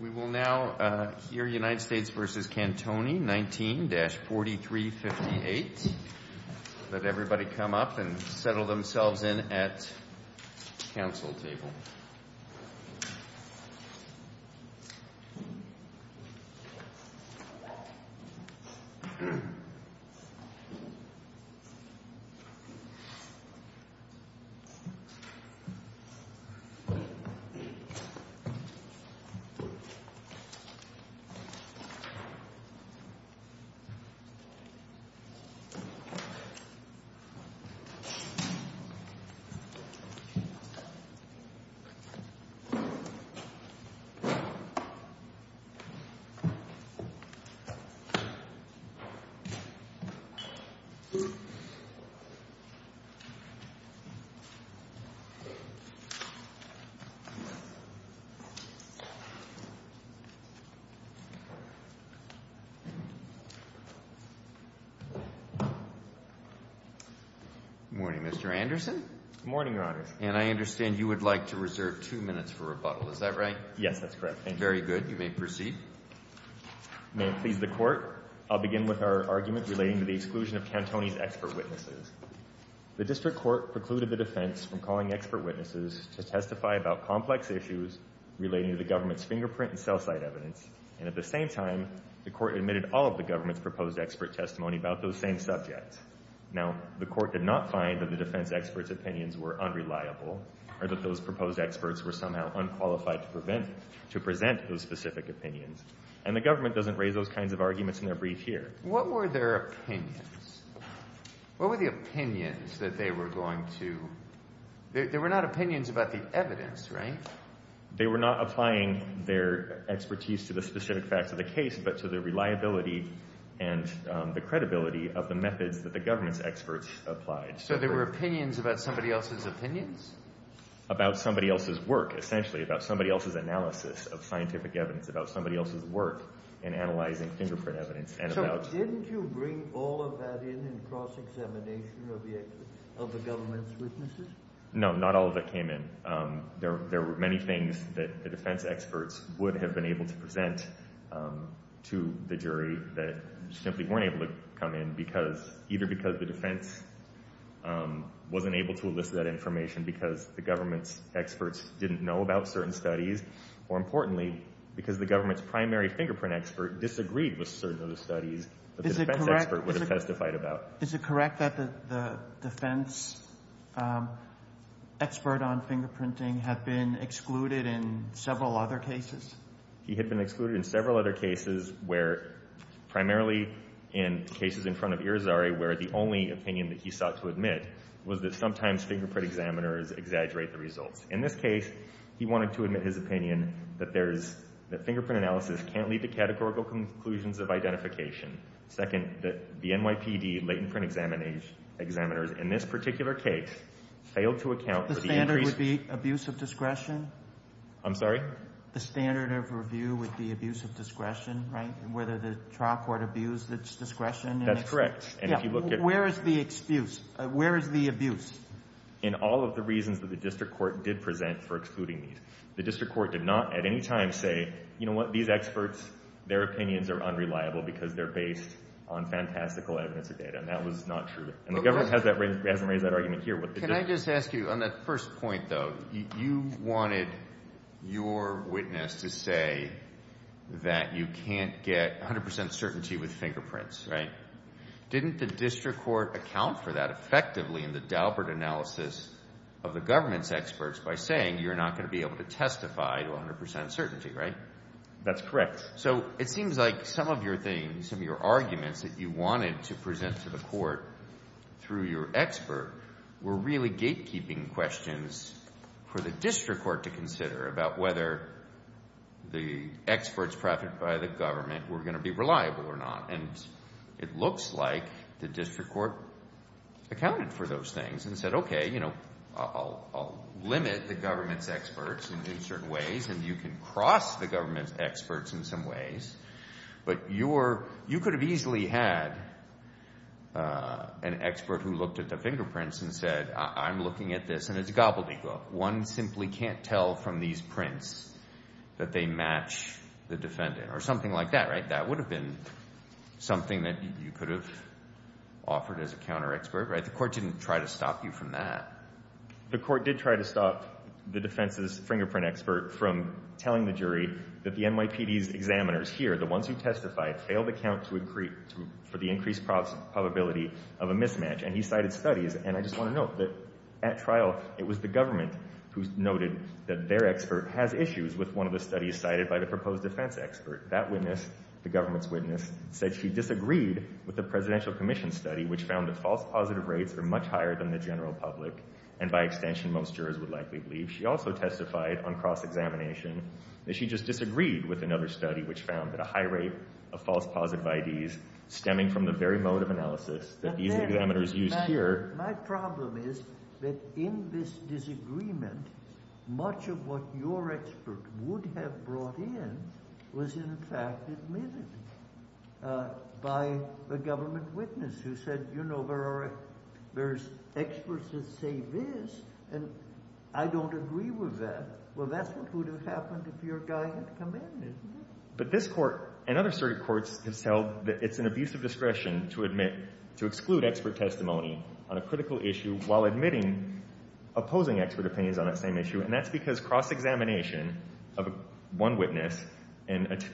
We will now hear United States v. Cantoni, 19-4358. Let everybody come up and settle themselves in at the council table. Good morning, Mr. Anderson. Good morning, Your Honor. And I understand you would like to reserve two minutes for rebuttal. Is that right? Yes, that's correct. Very good. You may proceed. May it please the Court, I'll begin with our argument relating to the exclusion of Cantoni's expert witnesses. The district court precluded the defense from calling expert witnesses to testify about complex issues relating to the government's fingerprint and cell site evidence. And at the same time, the court admitted all of the government's proposed expert testimony about those same subjects. Now, the court did not find that the defense expert's opinions were unreliable or that those proposed experts were somehow unqualified to present those specific opinions. And the government doesn't raise those kinds of arguments in their brief here. What were their opinions? What were the opinions that they were going to – they were not opinions about the evidence, right? They were not applying their expertise to the specific facts of the case but to the reliability and the credibility of the methods that the government's experts applied. So they were opinions about somebody else's opinions? About somebody else's work, essentially, about somebody else's analysis of scientific evidence, about somebody else's work in analyzing fingerprint evidence. So didn't you bring all of that in in cross-examination of the government's witnesses? No, not all of that came in. There were many things that the defense experts would have been able to present to the jury that simply weren't able to come in either because the defense wasn't able to elicit that information because the government's experts didn't know about certain studies or, importantly, because the government's primary fingerprint expert disagreed with certain of the studies that the defense expert would have testified about. Is it correct that the defense expert on fingerprinting had been excluded in several other cases? He had been excluded in several other cases where – primarily in cases in front of Irizarry where the only opinion that he sought to admit was that sometimes fingerprint examiners exaggerate the results. In this case, he wanted to admit his opinion that there is – that fingerprint analysis can't lead to categorical conclusions of identification. Second, that the NYPD latent print examiners in this particular case failed to account for the increase – The standard would be abuse of discretion? I'm sorry? The standard of review would be abuse of discretion, right, whether the trial court abused its discretion? That's correct. And if you look at – Where is the excuse? Where is the abuse? In all of the reasons that the district court did present for excluding these. The district court did not at any time say, you know what, these experts, their opinions are unreliable because they're based on fantastical evidence or data, and that was not true. And the government hasn't raised that argument here. Can I just ask you, on that first point, though, you wanted your witness to say that you can't get 100 percent certainty with fingerprints, right? Didn't the district court account for that effectively in the Daubert analysis of the government's experts by saying you're not going to be able to testify to 100 percent certainty, right? That's correct. So it seems like some of your things, some of your arguments that you wanted to present to the court through your expert were really gatekeeping questions for the district court to consider about whether the experts presented by the government were going to be reliable or not. And it looks like the district court accounted for those things and said, okay, I'll limit the government's experts in certain ways, and you can cross the government's experts in some ways. But you could have easily had an expert who looked at the fingerprints and said, I'm looking at this, and it's a gobbledygook. One simply can't tell from these prints that they match the defendant or something like that, right? Something that you could have offered as a counter-expert, right? The court didn't try to stop you from that. The court did try to stop the defense's fingerprint expert from telling the jury that the NYPD's examiners here, the ones who testified, failed to account for the increased probability of a mismatch, and he cited studies. And I just want to note that at trial, it was the government who noted that their expert has issues with one of the studies cited by the proposed defense expert. That witness, the government's witness, said she disagreed with the Presidential Commission study which found that false positive rates are much higher than the general public, and by extension, most jurors would likely believe. She also testified on cross-examination that she just disagreed with another study which found that a high rate of false positive IDs stemming from the very mode of analysis that these examiners used here… …was in fact admitted by a government witness who said, you know, there's experts that say this, and I don't agree with that. Well, that's what would have happened if your guy had come in, isn't it? But this court and other certain courts have held that it's an abuse of discretion to admit – to exclude expert testimony on a critical issue while admitting opposing expert opinions on that same issue. And that's because cross-examination of one witness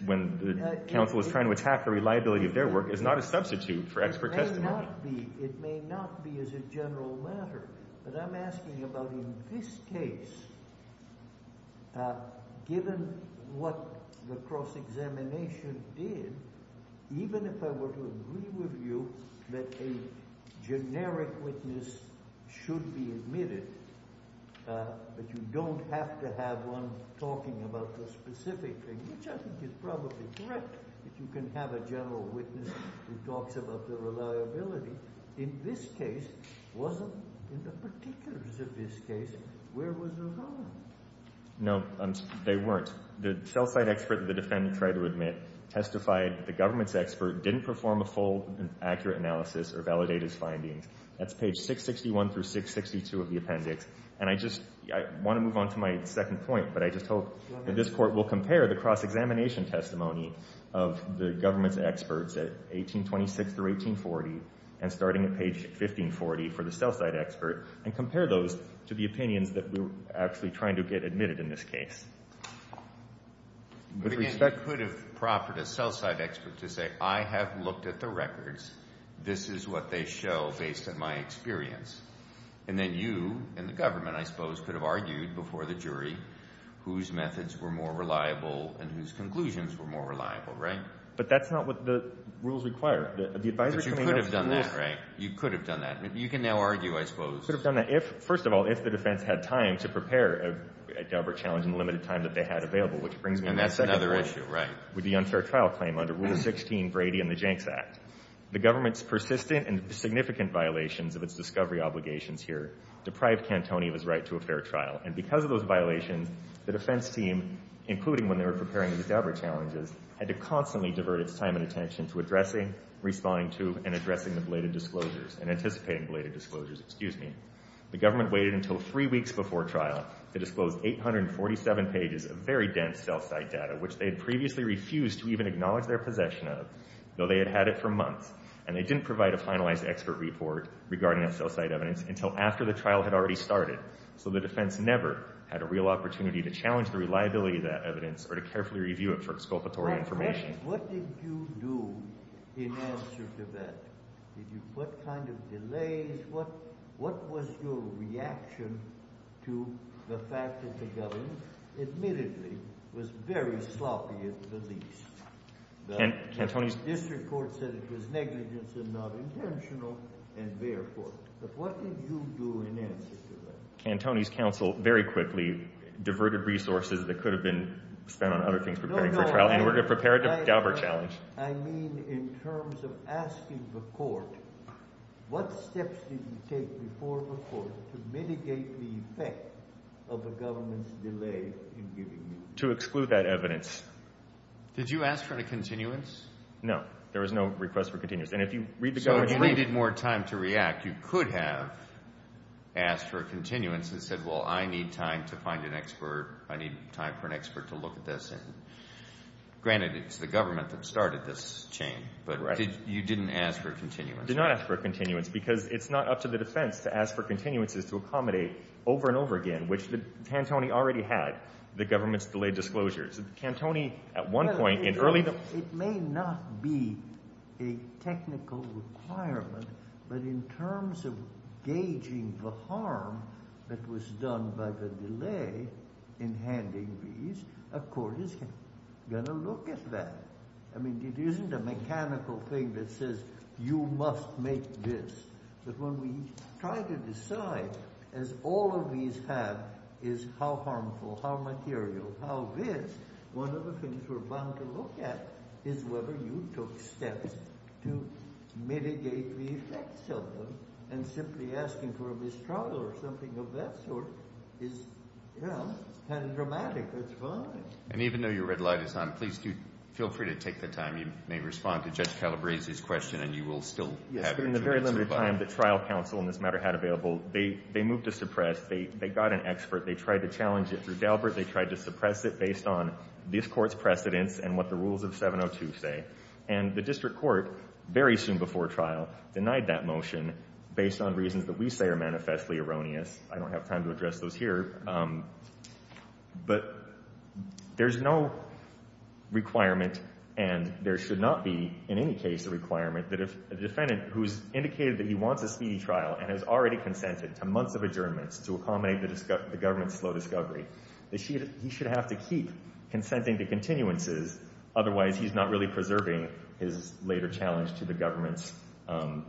when the counsel is trying to attack the reliability of their work is not a substitute for expert testimony. It may not be. It may not be as a general matter. But I'm asking about in this case, given what the cross-examination did, even if I were to agree with you that a generic witness should be admitted but you don't have to have one talking about the specific thing, which I think is probably correct. If you can have a general witness who talks about the reliability, in this case, wasn't – in the particulars of this case, where was the problem? No, they weren't. The cell site expert that the defendant tried to admit testified that the government's expert didn't perform a full and accurate analysis or validate his findings. That's page 661 through 662 of the appendix. And I just – I want to move on to my second point, but I just hope that this Court will compare the cross-examination testimony of the government's experts at 1826 through 1840 and starting at page 1540 for the cell site expert and compare those to the opinions that we're actually trying to get admitted in this case. But again, you could have proffered a cell site expert to say, I have looked at the records. This is what they show based on my experience. And then you and the government, I suppose, could have argued before the jury whose methods were more reliable and whose conclusions were more reliable, right? But that's not what the rules require. But you could have done that, right? You could have done that. You can now argue, I suppose. You could have done that if – first of all, if the defense had time to prepare a Daubert challenge in the limited time that they had available, which brings me to my second point. And that's another issue, right? With the unfair trial claim under Rule 16, Brady and the Jenks Act. The government's persistent and significant violations of its discovery obligations here deprived Cantoni of his right to a fair trial. And because of those violations, the defense team, including when they were preparing the Daubert challenges, had to constantly divert its time and attention to addressing, responding to, and addressing the belated disclosures and anticipating belated disclosures. Excuse me. The government waited until three weeks before trial to disclose 847 pages of very dense cell site data, which they had previously refused to even acknowledge their possession of, though they had had it for months. And they didn't provide a finalized expert report regarding that cell site evidence until after the trial had already started. So the defense never had a real opportunity to challenge the reliability of that evidence or to carefully review it for exculpatory information. My question is, what did you do in answer to that? Did you put kind of delays? What was your reaction to the fact that the government admittedly was very sloppy at the least? Cantoni's – The district court said it was negligence and not intentional, and therefore – but what did you do in answer to that? Cantoni's counsel very quickly diverted resources that could have been spent on other things preparing for trial in order to prepare the Daubert challenge. I mean in terms of asking the court, what steps did you take before the court to mitigate the effect of the government's delay in giving you – To exclude that evidence. Did you ask for a continuance? No. There was no request for continuance. And if you read the government's – If you needed more time to react, you could have asked for a continuance and said, well, I need time to find an expert. I need time for an expert to look at this. And granted, it's the government that started this chain, but you didn't ask for a continuance. Did not ask for a continuance because it's not up to the defense to ask for continuances to accommodate over and over again, which Cantoni already had, the government's delayed disclosures. Cantoni at one point in early – It may not be a technical requirement, but in terms of gauging the harm that was done by the delay in handing these, a court is going to look at that. I mean, it isn't a mechanical thing that says you must make this. But when we try to decide, as all of these have, is how harmful, how material, how this, one of the things we're bound to look at is whether you took steps to mitigate the effects of them. And simply asking for a mistrial or something of that sort is, you know, kind of dramatic. That's fine. And even though your red light is on, please do feel free to take the time. You may respond to Judge Calabrese's question and you will still have your answer. Yes, but in the very limited time that trial counsel in this matter had available, they moved to suppress. They got an expert. They tried to challenge it through Daubert. They tried to suppress it based on this Court's precedents and what the rules of 702 say. And the district court very soon before trial denied that motion based on reasons that we say are manifestly erroneous. I don't have time to address those here. But there's no requirement, and there should not be in any case a requirement, that if a defendant who's indicated that he wants a speedy trial and has already consented to months of adjournments to accommodate the government's slow discovery, that he should have to keep consenting to continuances. Otherwise, he's not really preserving his later challenge to the government's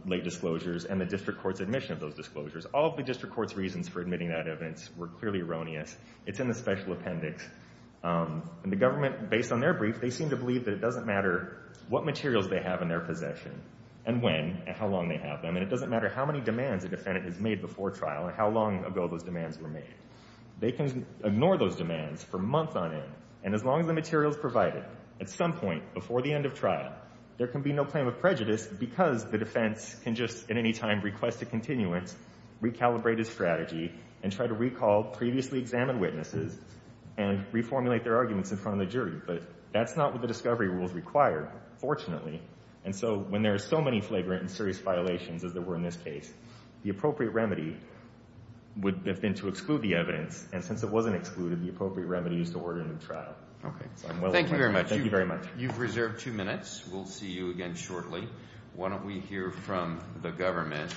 late disclosures and the district court's admission of those disclosures. All of the district court's reasons for admitting that evidence were clearly erroneous. It's in the special appendix. And the government, based on their brief, they seem to believe that it doesn't matter what materials they have in their possession and when and how long they have them, and it doesn't matter how many demands a defendant has made before trial and how long ago those demands were made. They can ignore those demands for months on end. And as long as the material is provided, at some point before the end of trial, there can be no claim of prejudice because the defense can just at any time request a continuance, recalibrate his strategy, and try to recall previously examined witnesses and reformulate their arguments in front of the jury. But that's not what the discovery rules require, fortunately. And so when there are so many flagrant and serious violations as there were in this case, the appropriate remedy would have been to exclude the evidence. And since it wasn't excluded, the appropriate remedy is to order a new trial. So I'm well aware of that. Thank you very much. Thank you very much. You've reserved two minutes. We'll see you again shortly. Why don't we hear from the government?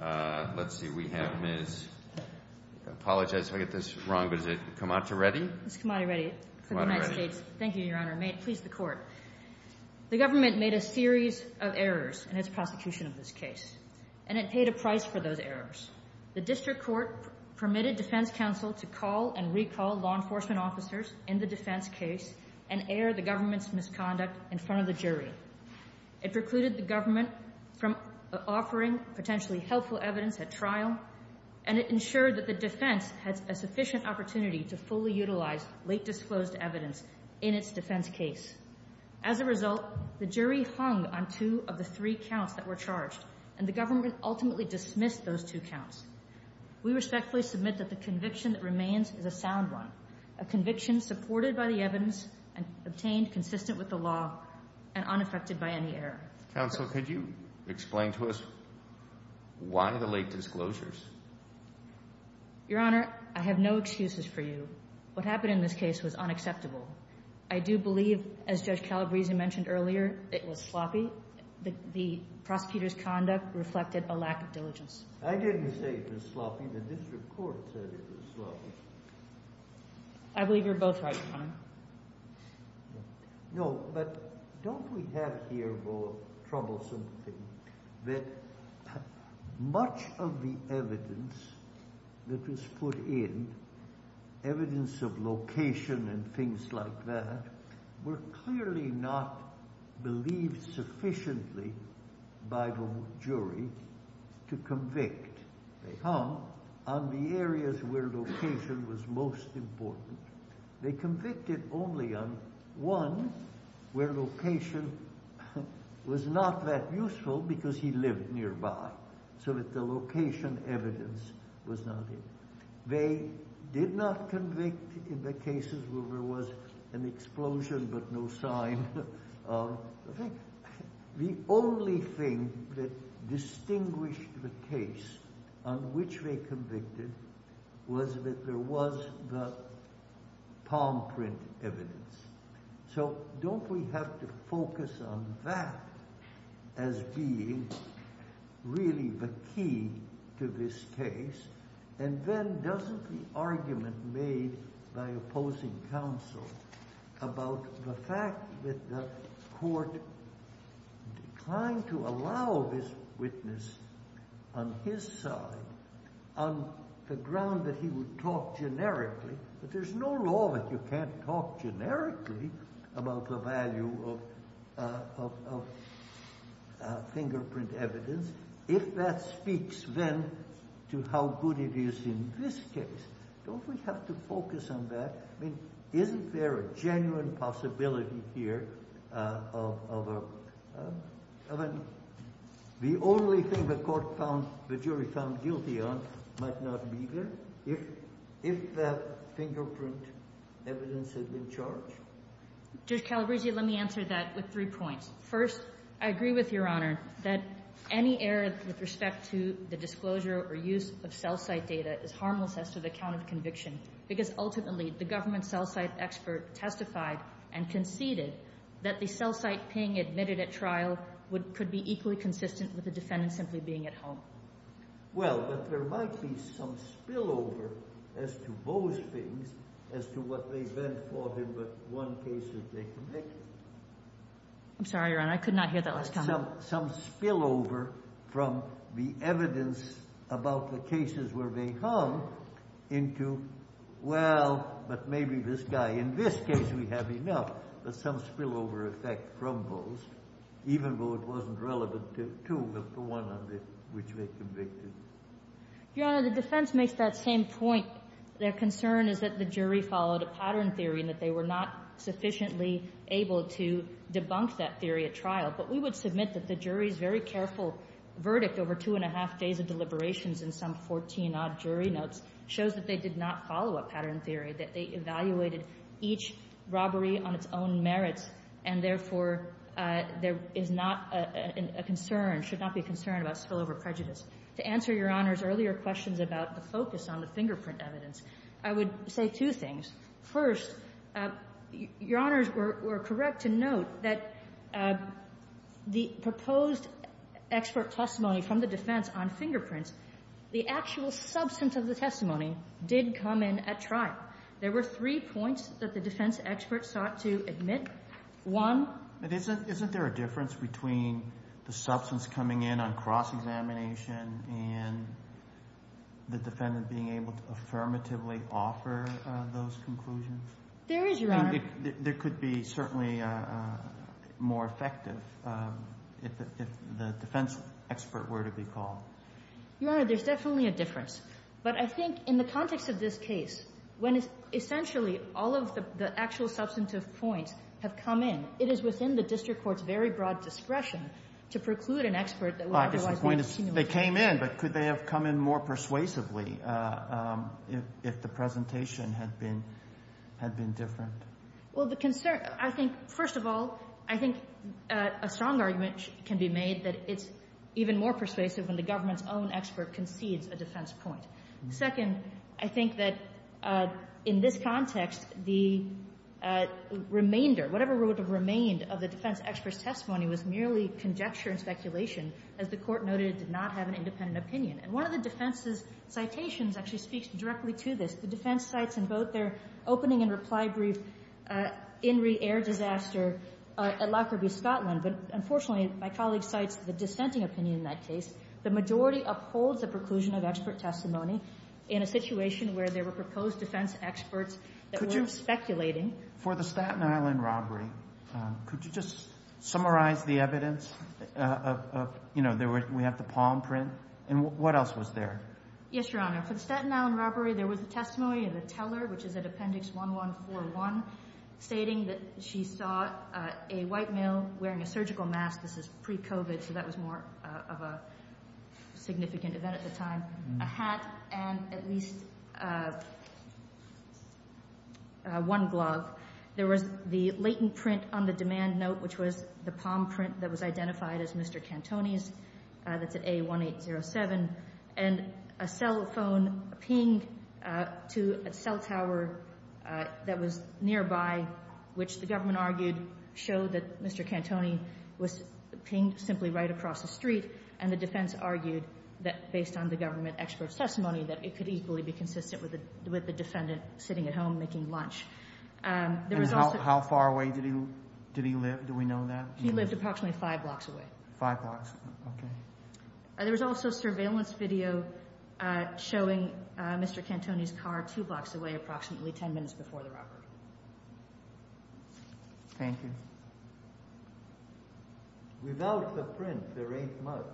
Let's see. We have Ms. I apologize if I get this wrong, but is it Kamati Reddy? Ms. Kamati Reddy for the United States. Kamati Reddy. Thank you, Your Honor. May it please the Court. The government made a series of errors in its prosecution of this case, and it paid a price for those errors. The district court permitted defense counsel to call and recall law enforcement officers in the defense case and air the government's misconduct in front of the jury. It precluded the government from offering potentially helpful evidence at trial, and it ensured that the defense had a sufficient opportunity to fully utilize late disclosed evidence in its defense case. As a result, the jury hung on two of the three counts that were charged, and the government ultimately dismissed those two counts. We respectfully submit that the conviction that remains is a sound one, a conviction supported by the evidence and obtained consistent with the law and unaffected by any error. Counsel, could you explain to us why the late disclosures? Your Honor, I have no excuses for you. What happened in this case was unacceptable. I do believe, as Judge Calabresi mentioned earlier, it was sloppy. The prosecutor's conduct reflected a lack of diligence. I didn't say it was sloppy. The district court said it was sloppy. I believe you're both right, Your Honor. No, but don't we have here, though, a troublesome thing, that much of the evidence that was put in, evidence of location and things like that, were clearly not believed sufficiently by the jury to convict. They hung on the areas where location was most important. They convicted only on one where location was not that useful because he lived nearby, so that the location evidence was not in. They did not convict in the cases where there was an explosion but no sign of the thing. The only thing that distinguished the case on which they convicted was that there was the palm print evidence. So don't we have to focus on that as being really the key to this case and then doesn't the argument made by opposing counsel about the fact that the court declined to allow this witness on his side on the ground that he would talk generically, but there's no law that you can't talk generically about the value of fingerprint evidence, if that speaks then to how good it is in this case. Don't we have to focus on that? I mean, isn't there a genuine possibility here of a – the only thing the court found – the jury found guilty on might not be there if that fingerprint evidence had been charged? Judge Calabruzzi, let me answer that with three points. First, I agree with Your Honor that any error with respect to the disclosure or use of cell site data is harmless as to the count of conviction, because ultimately the government cell site expert testified and conceded that the cell site ping admitted at trial would – could be equally consistent with the defendant simply being at home. Well, but there might be some spillover as to those things as to what they then thought in the one case that they convicted. I'm sorry, Your Honor. I could not hear that last time. Some spillover from the evidence about the cases where they hung into, well, but maybe this guy. In this case, we have enough, but some spillover effect from those, even though it wasn't relevant to the one on the – which they convicted. Your Honor, the defense makes that same point. Their concern is that the jury followed a pattern theory and that they were not sufficiently able to debunk that theory at trial. But we would submit that the jury's very careful verdict over two and a half days of deliberations and some 14-odd jury notes shows that they did not follow a pattern theory, that they evaluated each robbery on its own merits, and therefore, there is not a concern, should not be a concern about spillover prejudice. To answer Your Honor's earlier questions about the focus on the fingerprint evidence, I would say two things. First, Your Honors were correct to note that the proposed expert testimony from the defense on fingerprints, the actual substance of the testimony did come in at trial. There were three points that the defense experts sought to admit. One — But isn't there a difference between the substance coming in on cross-examination and the defendant being able to affirmatively offer those conclusions? There is, Your Honor. I mean, there could be certainly more effective if the defense expert were to be called. Your Honor, there's definitely a difference. But I think in the context of this case, when it's essentially all of the actual substantive points have come in, it is within the district court's very broad discretion to preclude an expert that would otherwise be – My point is they came in, but could they have come in more persuasively if the presentation had been different? Well, the concern — I think, first of all, I think a strong argument can be made that it's even more persuasive when the government's own expert concedes a defense point. Second, I think that in this context, the remainder, whatever would have remained of the defense expert's testimony was merely conjecture and speculation. As the Court noted, it did not have an independent opinion. And one of the defense's citations actually speaks directly to this. The defense cites in both their opening and reply brief, Inree Air Disaster at Lockerbie, Scotland. But unfortunately, my colleague cites the dissenting opinion in that case. The majority upholds the preclusion of expert testimony in a situation where there were proposed defense experts that weren't speculating. For the Staten Island robbery, could you just summarize the evidence? You know, we have the palm print. And what else was there? Yes, Your Honor. For the Staten Island robbery, there was a testimony of a teller, which is at Appendix 1141, stating that she saw a white male wearing a surgical mask. This is pre-COVID, so that was more of a significant event at the time. There was a hat and at least one glove. There was the latent print on the demand note, which was the palm print that was identified as Mr. Cantoni's, that's at A1807, and a cell phone pinged to a cell tower that was nearby, which the government argued showed that Mr. Cantoni was pinged simply right across the street, and the defense argued that, based on the government expert's testimony, that it could equally be consistent with the defendant sitting at home making lunch. And how far away did he live? Do we know that? He lived approximately five blocks away. Five blocks. Okay. There was also surveillance video showing Mr. Cantoni's car two blocks away, approximately 10 minutes before the robbery. Thank you. Without the print, there ain't much.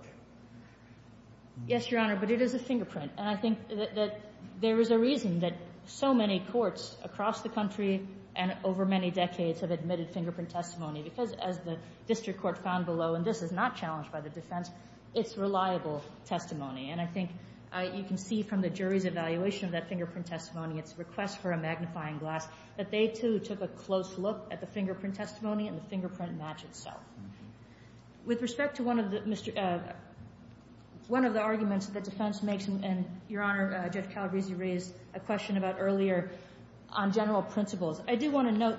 Yes, Your Honor, but it is a fingerprint. And I think that there is a reason that so many courts across the country and over many decades have admitted fingerprint testimony, because, as the district court found below, and this is not challenged by the defense, it's reliable testimony. And I think you can see from the jury's evaluation of that fingerprint testimony, it's a request for a magnifying glass, that they, too, took a close look at the testimony and the fingerprint match itself. With respect to one of the arguments that the defense makes, and, Your Honor, Judge Calabresi raised a question about earlier on general principles, I do want to note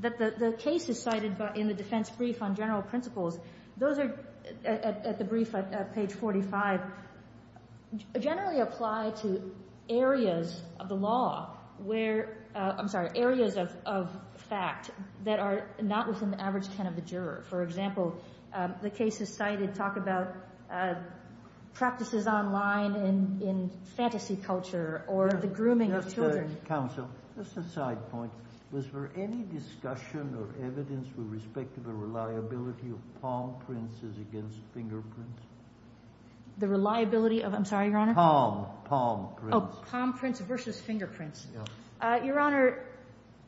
that the cases cited in the defense brief on general principles, those are at the brief at page 45, generally apply to areas of the law where – I'm sorry, areas of fact that are not within the average can of the juror. For example, the cases cited talk about practices online in fantasy culture or the grooming of children. Counsel, just a side point. Was there any discussion or evidence with respect to the reliability of palm prints as against fingerprints? The reliability of – I'm sorry, Your Honor? Palm, palm prints. Oh, palm prints versus fingerprints. Yes. Your Honor,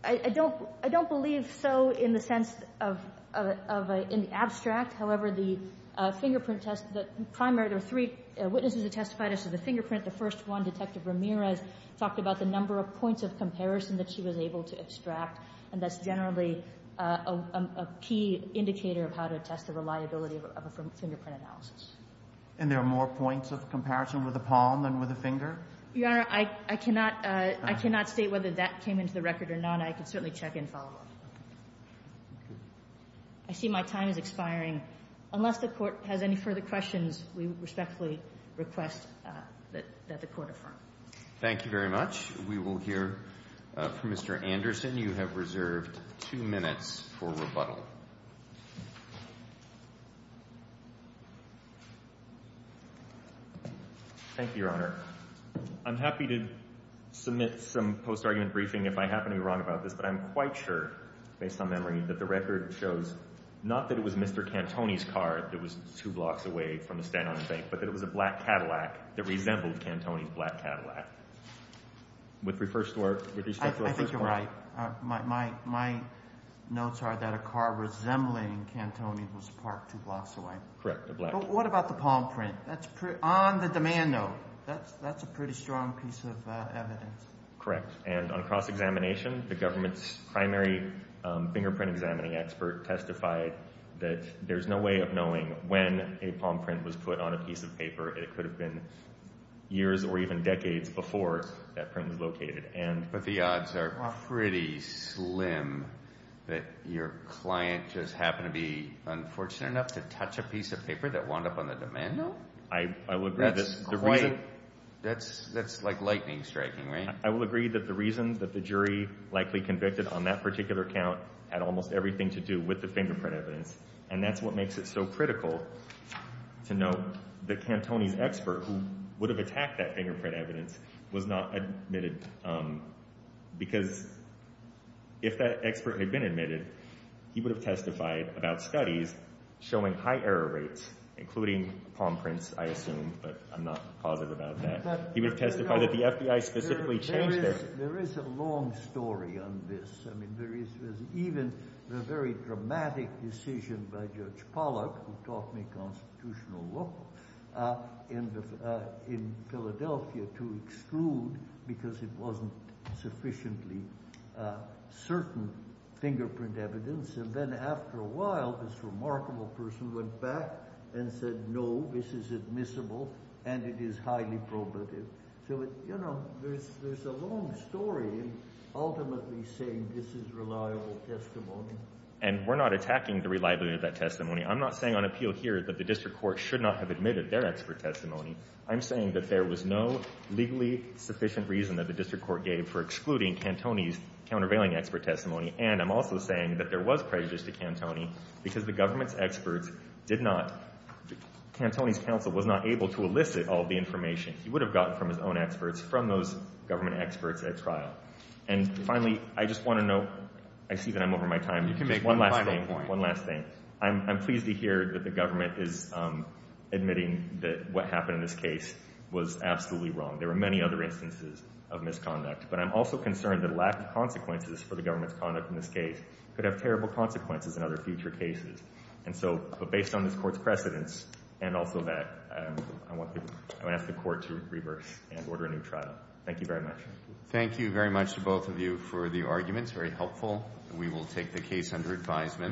I don't – I don't believe so in the sense of – in the abstract. However, the fingerprint test – the primary – there were three witnesses that testified as to the fingerprint. The first one, Detective Ramirez, talked about the number of points of comparison that she was able to extract, and that's generally a key indicator of how to test the reliability of a fingerprint analysis. And there are more points of comparison with a palm than with a finger? Your Honor, I cannot – I cannot state whether that came into the record or not. I can certainly check and follow up. Okay. I see my time is expiring. Unless the Court has any further questions, we respectfully request that the Court affirm. Thank you very much. We will hear from Mr. Anderson. You have reserved two minutes for rebuttal. Thank you, Your Honor. I'm happy to submit some post-argument briefing if I happen to be wrong about this, but I'm quite sure, based on memory, that the record shows not that it was Mr. Cantone's car that was two blocks away from the stand on the bank, but that it was a black Cadillac that resembled Cantone's black Cadillac. With respect to our first point – I think you're right. My notes are that a car resembling Cantone's was parked two blocks away. Correct, a black – But what about the palm print? On the demand note. That's a pretty strong piece of evidence. Correct. And on cross-examination, the government's primary fingerprint-examining expert testified that there's no way of knowing when a palm print was put on a piece of paper. It could have been years or even decades before that print was located. But the odds are pretty slim that your client just happened to be unfortunate enough to That's like lightning striking, right? I would agree that the reasons that the jury likely convicted on that particular count had almost everything to do with the fingerprint evidence, and that's what makes it so critical to note that Cantone's expert, who would have attacked that fingerprint evidence, was not admitted. Because if that expert had been admitted, he would have testified about studies showing high error rates, including palm prints, I assume, but I'm not positive about that. He would have testified that the FBI specifically changed it. There is a long story on this. I mean, there is even the very dramatic decision by Judge Pollack, who taught me constitutional law in Philadelphia, to exclude because it wasn't sufficiently certain fingerprint evidence. And then after a while, this remarkable person went back and said, no, this is admissible and it is highly probative. So, you know, there's a long story ultimately saying this is reliable testimony. And we're not attacking the reliability of that testimony. I'm not saying on appeal here that the district court should not have admitted their expert testimony. I'm saying that there was no legally sufficient reason that the district court gave for excluding Cantone's countervailing expert testimony. And I'm also saying that there was prejudice to Cantone because the government's experts did not Cantone's counsel was not able to elicit all the information he would have gotten from his own experts, from those government experts at trial. And finally, I just want to note, I see that I'm over my time. You can make one final point. One last thing. I'm pleased to hear that the government is admitting that what happened in this case was absolutely wrong. There were many other instances of misconduct. But I'm also concerned that lack of consequences for the government's conduct in this case could have terrible consequences in other future cases. And so based on this court's precedence and also that, I want to ask the court to reverse and order a new trial. Thank you very much. Thank you very much to both of you for the arguments. Very helpful. We will take the case under advisement.